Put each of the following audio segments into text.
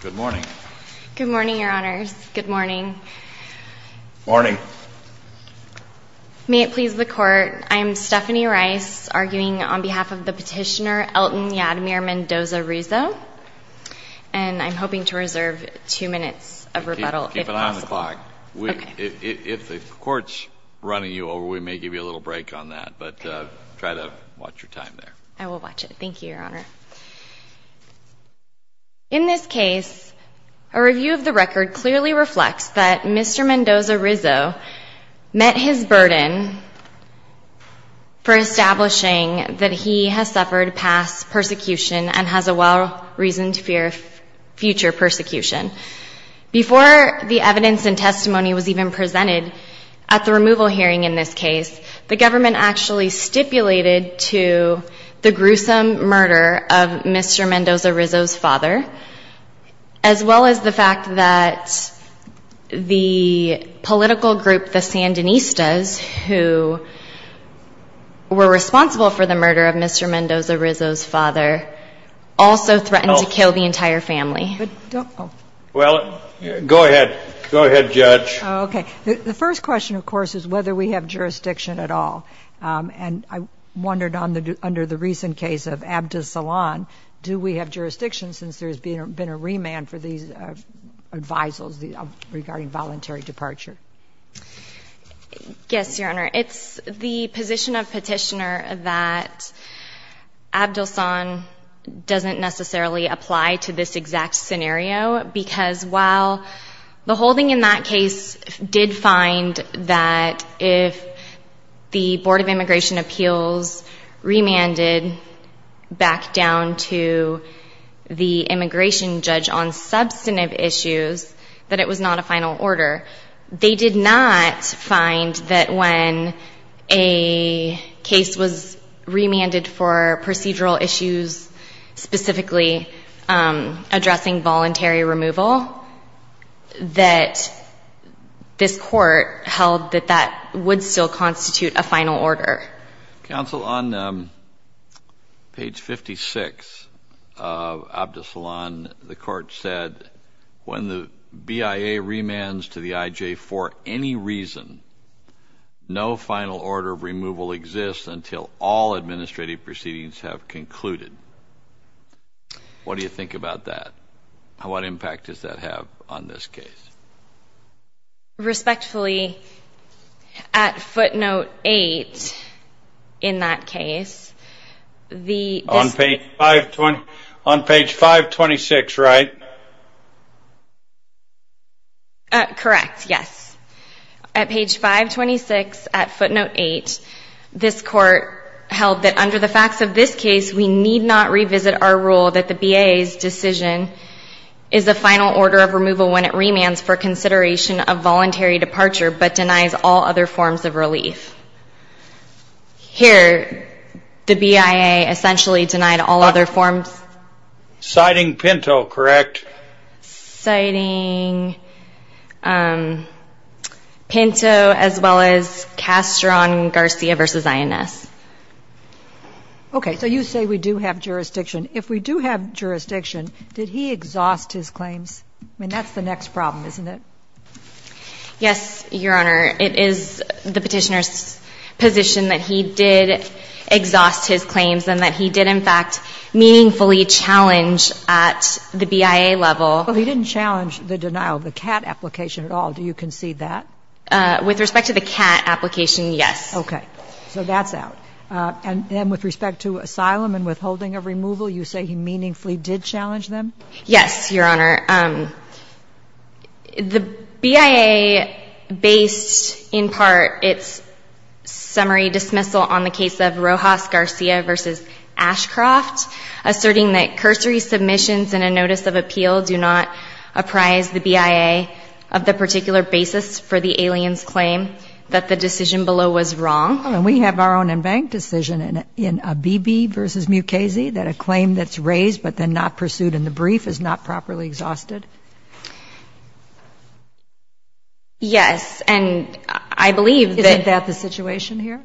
Good morning. Good morning, Your Honors. Good morning. Morning. May it please the Court, I am Stephanie Rice, arguing on behalf of the petitioner Elton Yadimir Mendoza Rizo, and I'm hoping to reserve two minutes of rebuttal, if possible. Keep it on the clock. Okay. If the Court's running you over, we may give you a little break on that, but try to watch your time there. I will watch it. Thank you, Your Honor. In this case, a review of the record clearly reflects that Mr. Mendoza Rizo met his burden for establishing that he has suffered past persecution and has a well-reasoned fear of future persecution. Before the evidence and testimony was even presented at the removal hearing in this case, the government actually stipulated to the gruesome murder of Mr. Mendoza Rizo's father, as well as the fact that the political group the Sandinistas, who were responsible for the murder of Mr. Mendoza Rizo's father, also threatened to kill the entire family. Well, go ahead. Go ahead, Judge. Okay. The first question, of course, is whether we have jurisdiction at all, and I wondered under the recent case of Abdelsan, do we have jurisdiction since there's been a remand for these advisals regarding voluntary departure? Yes, Your Honor. It's the position of Petitioner that Abdelsan doesn't necessarily apply to this exact scenario because while the holding in that case did find that if the Board of Immigration Appeals remanded back down to the immigration judge on substantive issues that it was not a final order, they did not find that when a case was remanded for procedural issues, specifically addressing voluntary removal, that this court held that that would still constitute a final order. Counsel, on page 56 of Abdelsan, the court said, when the BIA remands to the IJ for any reason, no final order of removal exists until all administrative proceedings have concluded. What do you think about that? What impact does that have on this case? Respectfully, at footnote 8 in that case, On page 526, right? Correct, yes. At page 526 at footnote 8, this court held that under the facts of this case, we need not revisit our rule that the BIA's decision is a final order of removal when it remands for consideration of voluntary departure but denies all other forms of relief. Here, the BIA essentially denied all other forms. Citing Pinto, correct? Citing Pinto as well as Castron Garcia versus INS. Okay. So you say we do have jurisdiction. If we do have jurisdiction, did he exhaust his claims? I mean, that's the next problem, isn't it? Yes, Your Honor. It is the Petitioner's position that he did exhaust his claims and that he did, in fact, meaningfully challenge at the BIA level. Well, he didn't challenge the denial of the CAT application at all. Do you concede that? With respect to the CAT application, yes. Okay. So that's out. And then with respect to asylum and withholding of removal, you say he meaningfully did challenge them? Yes, Your Honor. The BIA based in part its summary dismissal on the case of Rojas Garcia versus Ashcroft, asserting that cursory submissions in a notice of appeal do not apprise the BIA of the particular basis for the alien's claim that the decision below was wrong. And we have our own embanked decision in Abebe versus Mukasey that a claim that's raised but then not pursued in the brief is not properly exhausted? Yes. And I believe that the situation here?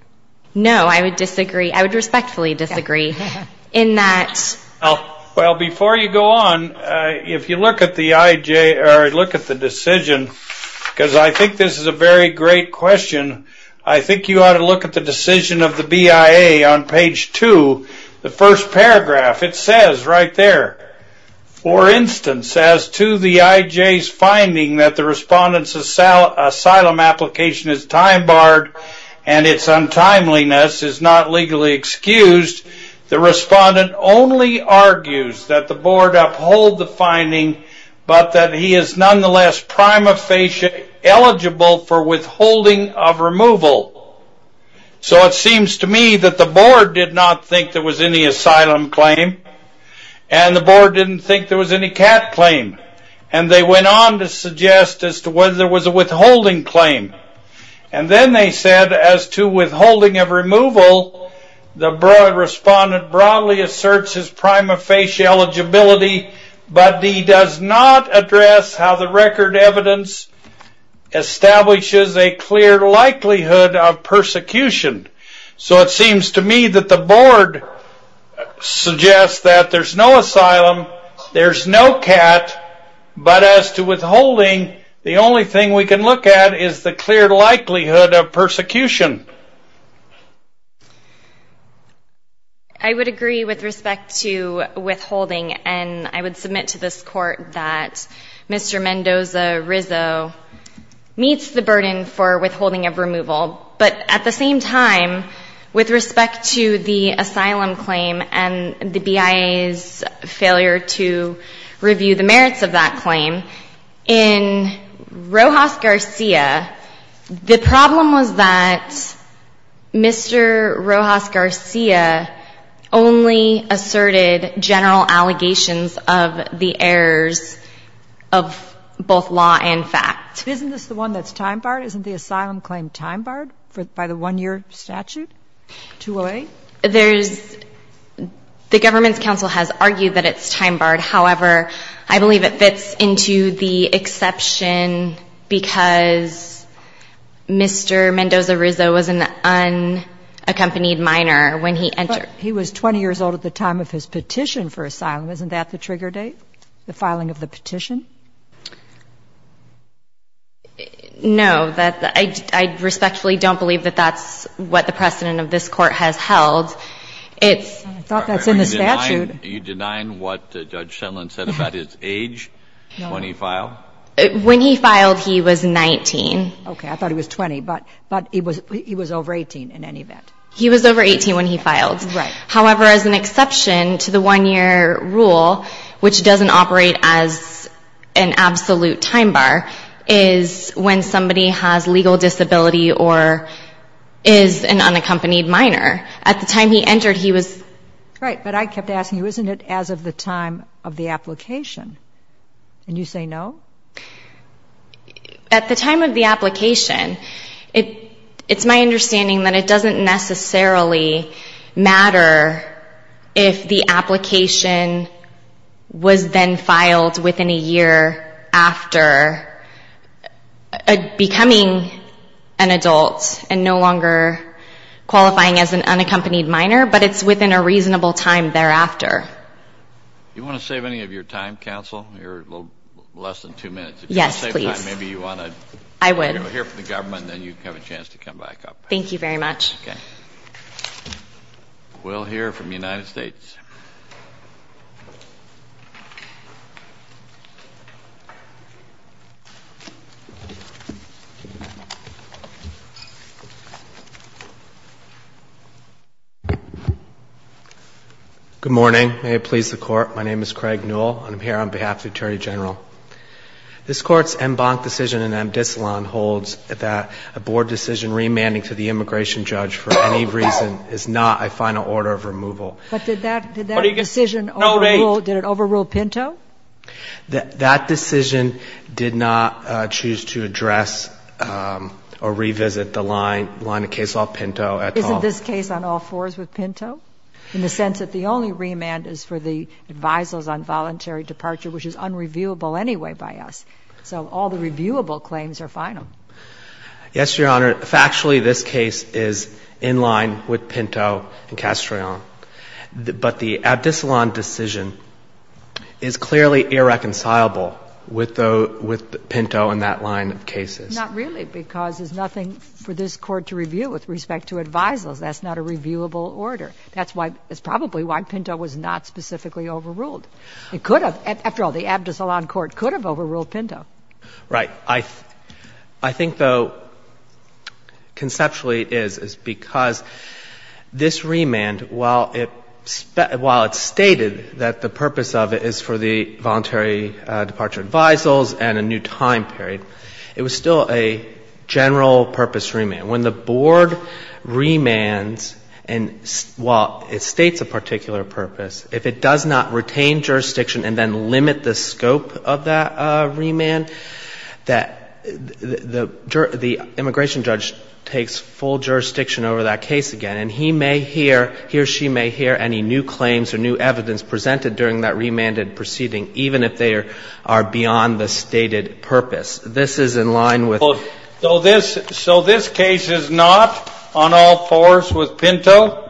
No. I would disagree. I would respectfully disagree in that. Well, before you go on, if you look at the decision, because I think this is a very great question, I think you ought to look at the decision of the BIA on page two, the first paragraph. It says right there, for instance, as to the IJ's finding that the respondent's asylum application is time barred and its untimeliness is not legally excused, the respondent only argues that the board uphold the finding but that he is withholding of removal. So it seems to me that the board did not think there was any asylum claim, and the board didn't think there was any cat claim, and they went on to suggest as to whether there was a withholding claim. And then they said as to withholding of removal, the respondent broadly asserts his prima facie eligibility, but he does not address how the record evidence establishes a clear likelihood of persecution. So it seems to me that the board suggests that there's no asylum, there's no cat, but as to withholding, the only thing we can look at is the clear likelihood of persecution. I would agree with respect to withholding, and I would submit to this court that Mr. Mendoza-Rizzo meets the burden for withholding of removal. But at the same time, with respect to the asylum claim and the BIA's failure to review the merits of that claim, in Rojas-Garcia, the problem was that Mr. Mendoza-Rizzo was an unaccompanied minor when he entered. But he was 20 years old at the time of his petition for asylum. Isn't that the trigger date, the filing of the petition? No. I respectfully don't believe that that's what the precedent of this Court has held. It's the statute. Are you denying what Judge Shetland said about his age when he filed? When he filed, he was 19. Okay. I thought he was 20. But he was over 18 in any event. He was over 18 when he filed. Right. However, as an exception to the one-year rule, which doesn't operate as an absolute time bar, is when somebody has legal disability or is an unaccompanied minor. At the time he entered, he was. Right. But I kept asking you, isn't it as of the time of the application? And you say no? At the time of the application, it's my understanding that it doesn't necessarily matter if the application was then filed within a year after becoming an adult and no longer qualifying as an unaccompanied minor, but it's within a reasonable time thereafter. Do you want to save any of your time, counsel, your less than two minutes? Yes, please. If you want to save time, maybe you want to hear from the government, and then you have a chance to come back up. Thank you very much. Okay. We'll hear from the United States. Good morning. May it please the Court. My name is Craig Newell, and I'm here on behalf of the Attorney General. This Court's en banc decision in Amdisalon holds that a board decision remanding to the immigration judge for any reason is not a final order of removal. But did that decision overrule Pinto? That decision did not choose to address or revisit the line of case law Pinto at all. Isn't this case on all fours with Pinto, in the sense that the only remand is for the advisers on voluntary departure, which is unreviewable anyway by us? So all the reviewable claims are final. Yes, Your Honor. Factually, this case is in line with Pinto and Castrillon. But the Amdisalon decision is clearly irreconcilable with Pinto in that line of cases. Not really, because there's nothing for this Court to review with respect to advisers. That's not a reviewable order. That's probably why Pinto was not specifically overruled. It could have. After all, the Amdisalon court could have overruled Pinto. Right. I think, though, conceptually it is, is because this remand, while it stated that the purpose of it is for the voluntary departure advisers and a new time period, it was still a general-purpose remand. When the board remands, and while it states a particular purpose, if it does not retain jurisdiction and then limit the scope of that remand, that the immigration judge takes full jurisdiction over that case again, and he may hear, he or she may hear any new claims or new evidence presented during that remanded proceeding, even if they are beyond the stated purpose. This is in line with the ---- This case is not on all fours with Pinto.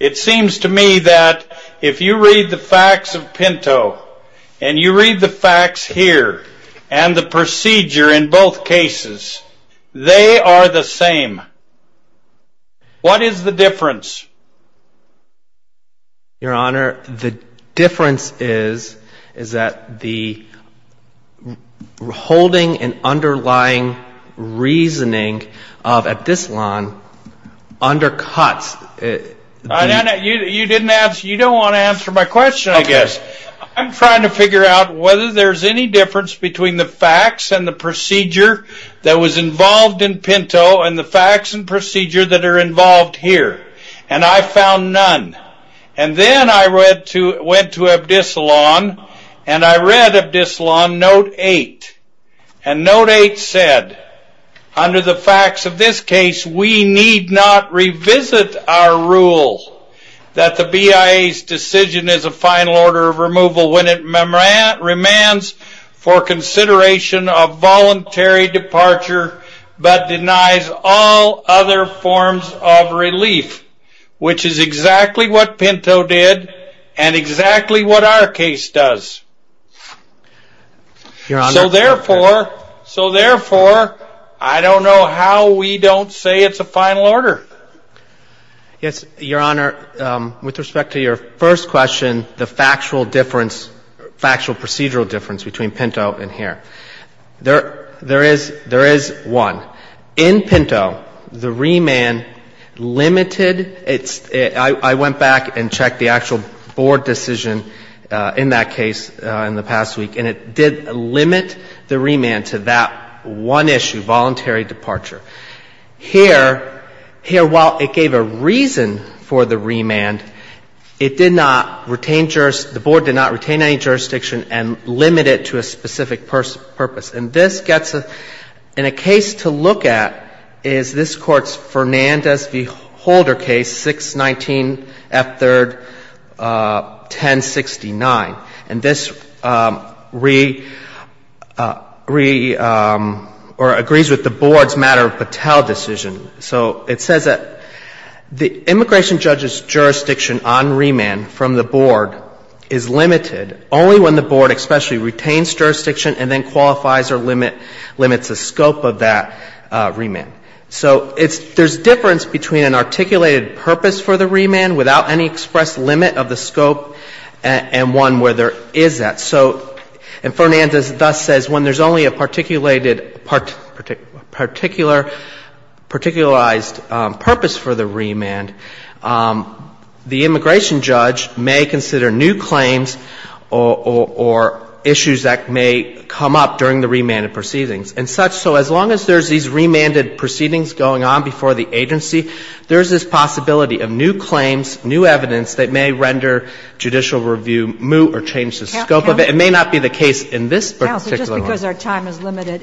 It seems to me that if you read the facts of Pinto and you read the facts here and the procedure in both cases, they are the same. What is the difference? Your Honor, the difference is that the holding and underlying reasoning of Amdisalon undercuts ---- You don't want to answer my question, I guess. I'm trying to figure out whether there's any difference between the facts and the procedure that was involved in Pinto and the facts and procedure that are involved here. And I found none. And then I went to Amdisalon and I read Amdisalon Note 8. And Note 8 said, under the facts of this case, we need not revisit our rule that the BIA's decision is a final order of removal when it remands for consideration of voluntary departure but denies all other forms of relief, which is exactly what Pinto did and exactly what our case does. So, therefore, I don't know how we don't say it's a final order. Yes, Your Honor. With respect to your first question, the factual difference, the factual difference between Pinto and here, there is one. In Pinto, the remand limited its ---- I went back and checked the actual Board decision in that case in the past week, and it did limit the remand to that one issue, voluntary departure. Here, while it gave a reason for the remand, it did not retain jurisdiction and limit it to a specific purpose. And this gets a ---- and a case to look at is this Court's Fernandez v. Holder case, 619F3rd 1069. And this re ---- or agrees with the Board's matter of Patel decision. So it says that the immigration judge's jurisdiction on remand from the Board is limited only when the Board especially retains jurisdiction and then qualifies or limits the scope of that remand. So it's ---- there's difference between an articulated purpose for the remand without any expressed limit of the scope and one where there is that. So ---- and Fernandez thus says when there's only a particulated ---- particular ---- particularized purpose for the remand, the immigration judge may consider new claims or issues that may come up during the remanded proceedings and such. So as long as there's these remanded proceedings going on before the agency, there's this possibility of new claims, new evidence that may render judicial review moot or change the scope of it. It may not be the case in this particular one. Now, so just because our time is limited,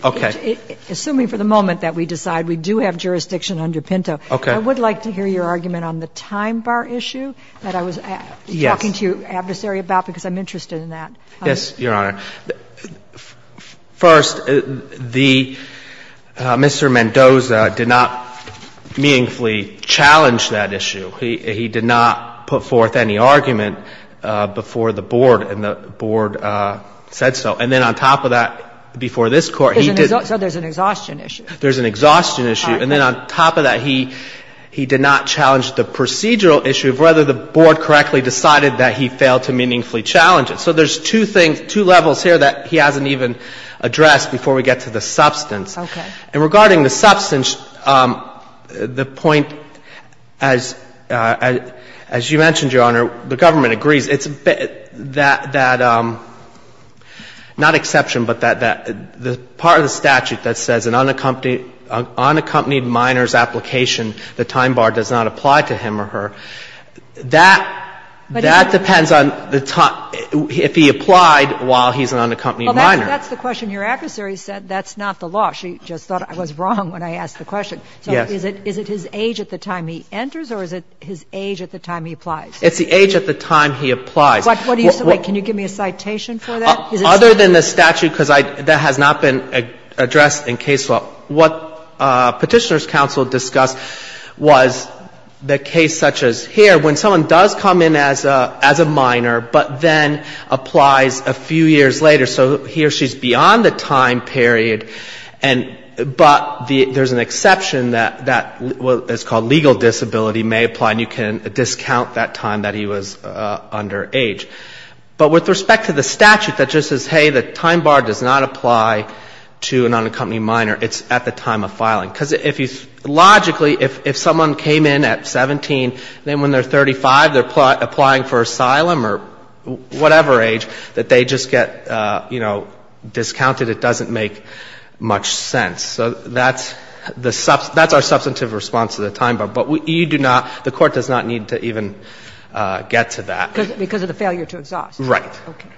assuming for the moment that we decide we do have jurisdiction under Pinto. Okay. I would like to hear your argument on the time bar issue that I was talking to your adversary about, because I'm interested in that. Yes, Your Honor. First, the ---- Mr. Mendoza did not meaningfully challenge that issue. He did not put forth any argument before the board and the board said so. And then on top of that, before this Court, he didn't. So there's an exhaustion issue. There's an exhaustion issue. And then on top of that, he did not challenge the procedural issue of whether the board correctly decided that he failed to meaningfully challenge it. So there's two things, two levels here that he hasn't even addressed before we get to the substance. Okay. And regarding the substance, the point, as you mentioned, Your Honor, the government agrees, it's that, not exception, but that part of the statute that says an unaccompanied minor's application, the time bar does not apply to him or her. That depends on if he applied while he's an unaccompanied minor. Well, that's the question your adversary said. That's not the law. I actually just thought I was wrong when I asked the question. Yes. So is it his age at the time he enters or is it his age at the time he applies? It's the age at the time he applies. What do you say? Wait. Can you give me a citation for that? Other than the statute, because that has not been addressed in case law. What Petitioner's counsel discussed was the case such as here when someone does come in as a minor but then applies a few years later. So he or she is beyond the time period, but there's an exception that is called legal disability, may apply, and you can discount that time that he was under age. But with respect to the statute that just says, hey, the time bar does not apply to an unaccompanied minor, it's at the time of filing. Because logically, if someone came in at 17, then when they're 35, they're applying for asylum or whatever age, that they just get, you know, discounted. It doesn't make much sense. So that's the – that's our substantive response to the time bar. But you do not – the Court does not need to even get to that. Because of the failure to exhaust. Right. Okay.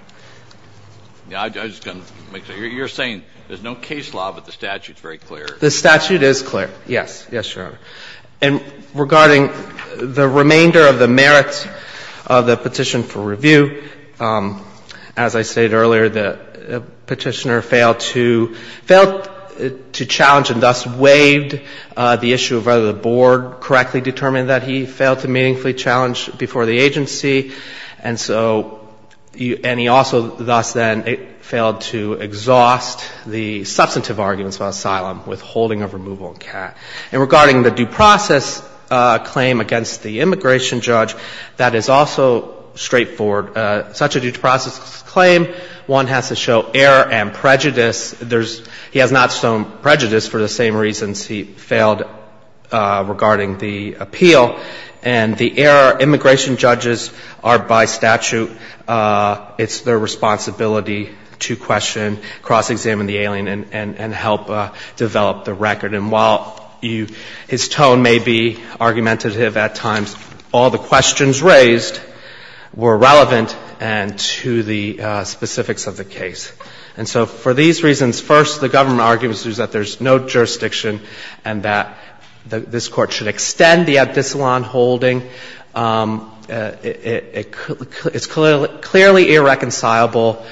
I was just going to make sure. You're saying there's no case law, but the statute's very clear. The statute is clear. Yes. Yes, Your Honor. And regarding the remainder of the merits of the petition for review, as I stated earlier, the Petitioner failed to – failed to challenge and thus waived the issue of whether the Board correctly determined that he failed to meaningfully challenge before the agency. And so – and he also thus then failed to exhaust the substantive arguments about asylum with holding of removal in CAT. And regarding the due process claim against the immigration judge, that is also straightforward. Such a due process claim, one has to show error and prejudice. There's – he has not shown prejudice for the same reasons he failed regarding the appeal. And the error – immigration judges are by statute – it's their responsibility to question, cross-examine the alien, and help develop the record. And while you – his tone may be argumentative at times, all the questions raised were relevant and to the specifics of the case. And so for these reasons, first, the government argues that there's no jurisdiction and that this Court should extend the abdicillon holding. It's clearly irreconcilable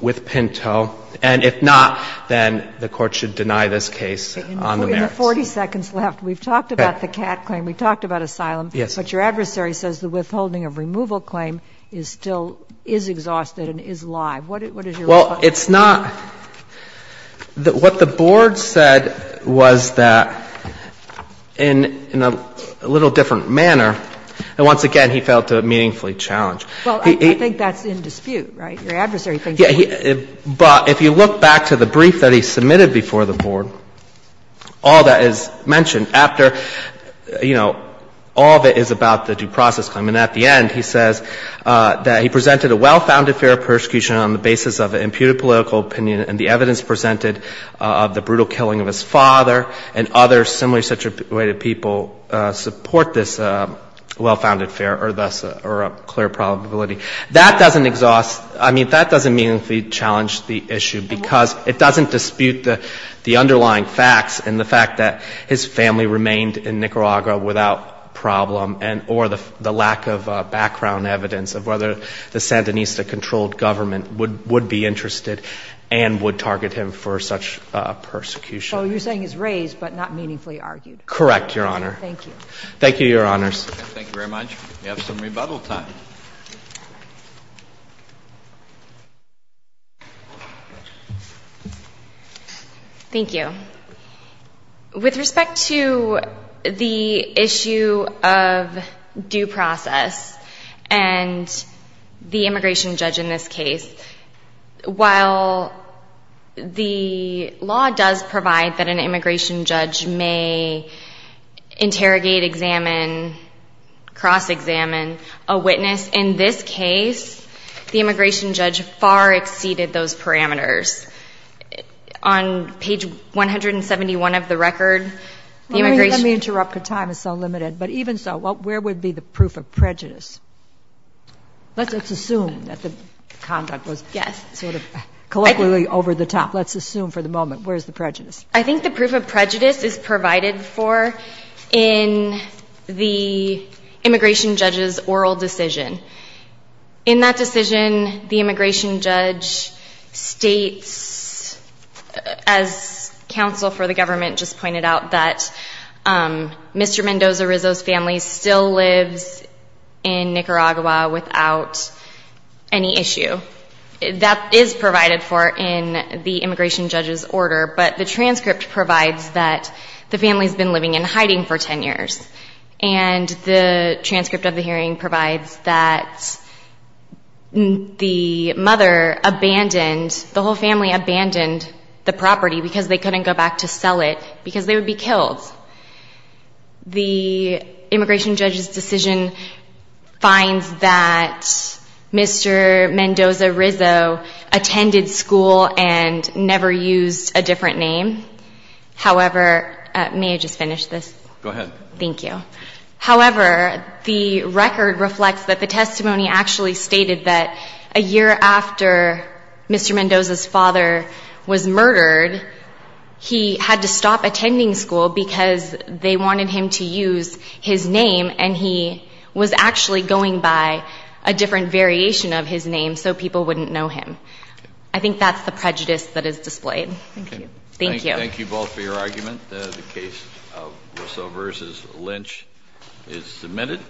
with Pinto. And if not, then the Court should deny this case on the merits. In the 40 seconds left, we've talked about the CAT claim, we've talked about asylum. Yes. But your adversary says the withholding of removal claim is still – is exhausted and is live. What is your response to that? Well, it's not – what the Board said was that in a little different manner, and once again he failed to meaningfully challenge. Well, I think that's in dispute, right? Your adversary thinks it is. But if you look back to the brief that he submitted before the Board, all that is mentioned after, you know, all of it is about the due process claim. And at the end, he says that he presented a well-founded fair persecution on the basis of an imputed political opinion and the evidence presented of the brutal killing of his father and other similarly situated people support this well-founded fair or thus a clear probability. That doesn't exhaust – I mean, that doesn't meaningfully challenge the issue because it doesn't dispute the underlying facts and the fact that his family remained in Nicaragua without problem or the lack of background evidence of whether the Sandinista-controlled government would be interested and would target him for such persecution. So you're saying he's raised but not meaningfully argued. Correct, Your Honor. Thank you. Thank you, Your Honors. Thank you very much. We have some rebuttal time. Thank you. With respect to the issue of due process and the immigration judge in this case, while the law does provide that an immigration judge may interrogate, examine, cross-examine a witness, in this case, the immigration judge far exceeded those parameters. On page 171 of the record, the immigration – Let me interrupt because time is so limited. But even so, where would be the proof of prejudice? Let's assume that the conduct was sort of collectively over the top. Let's assume for the moment. Where is the prejudice? I think the proof of prejudice is provided for in the immigration judge's oral decision. In that decision, the immigration judge states, as counsel for the government just pointed out, that Mr. Mendoza-Rizzo's family still lives in Nicaragua without any issue. That is provided for in the immigration judge's order. But the transcript provides that the family has been living in hiding for 10 years. And the transcript of the hearing provides that the mother abandoned – the whole family abandoned the property because they couldn't go back to sell it because they would be killed. The immigration judge's decision finds that Mr. Mendoza-Rizzo attended school and never used a different name. However – may I just finish this? Go ahead. Thank you. However, the record reflects that the testimony actually stated that a year after Mr. Mendoza's father was murdered, he had to stop attending school because they wanted him to use his name and he was actually going by a different variation of his name so people wouldn't know him. I think that's the prejudice that is displayed. Thank you. Thank you both for your argument. The case of Rizzo v. Lynch is submitted.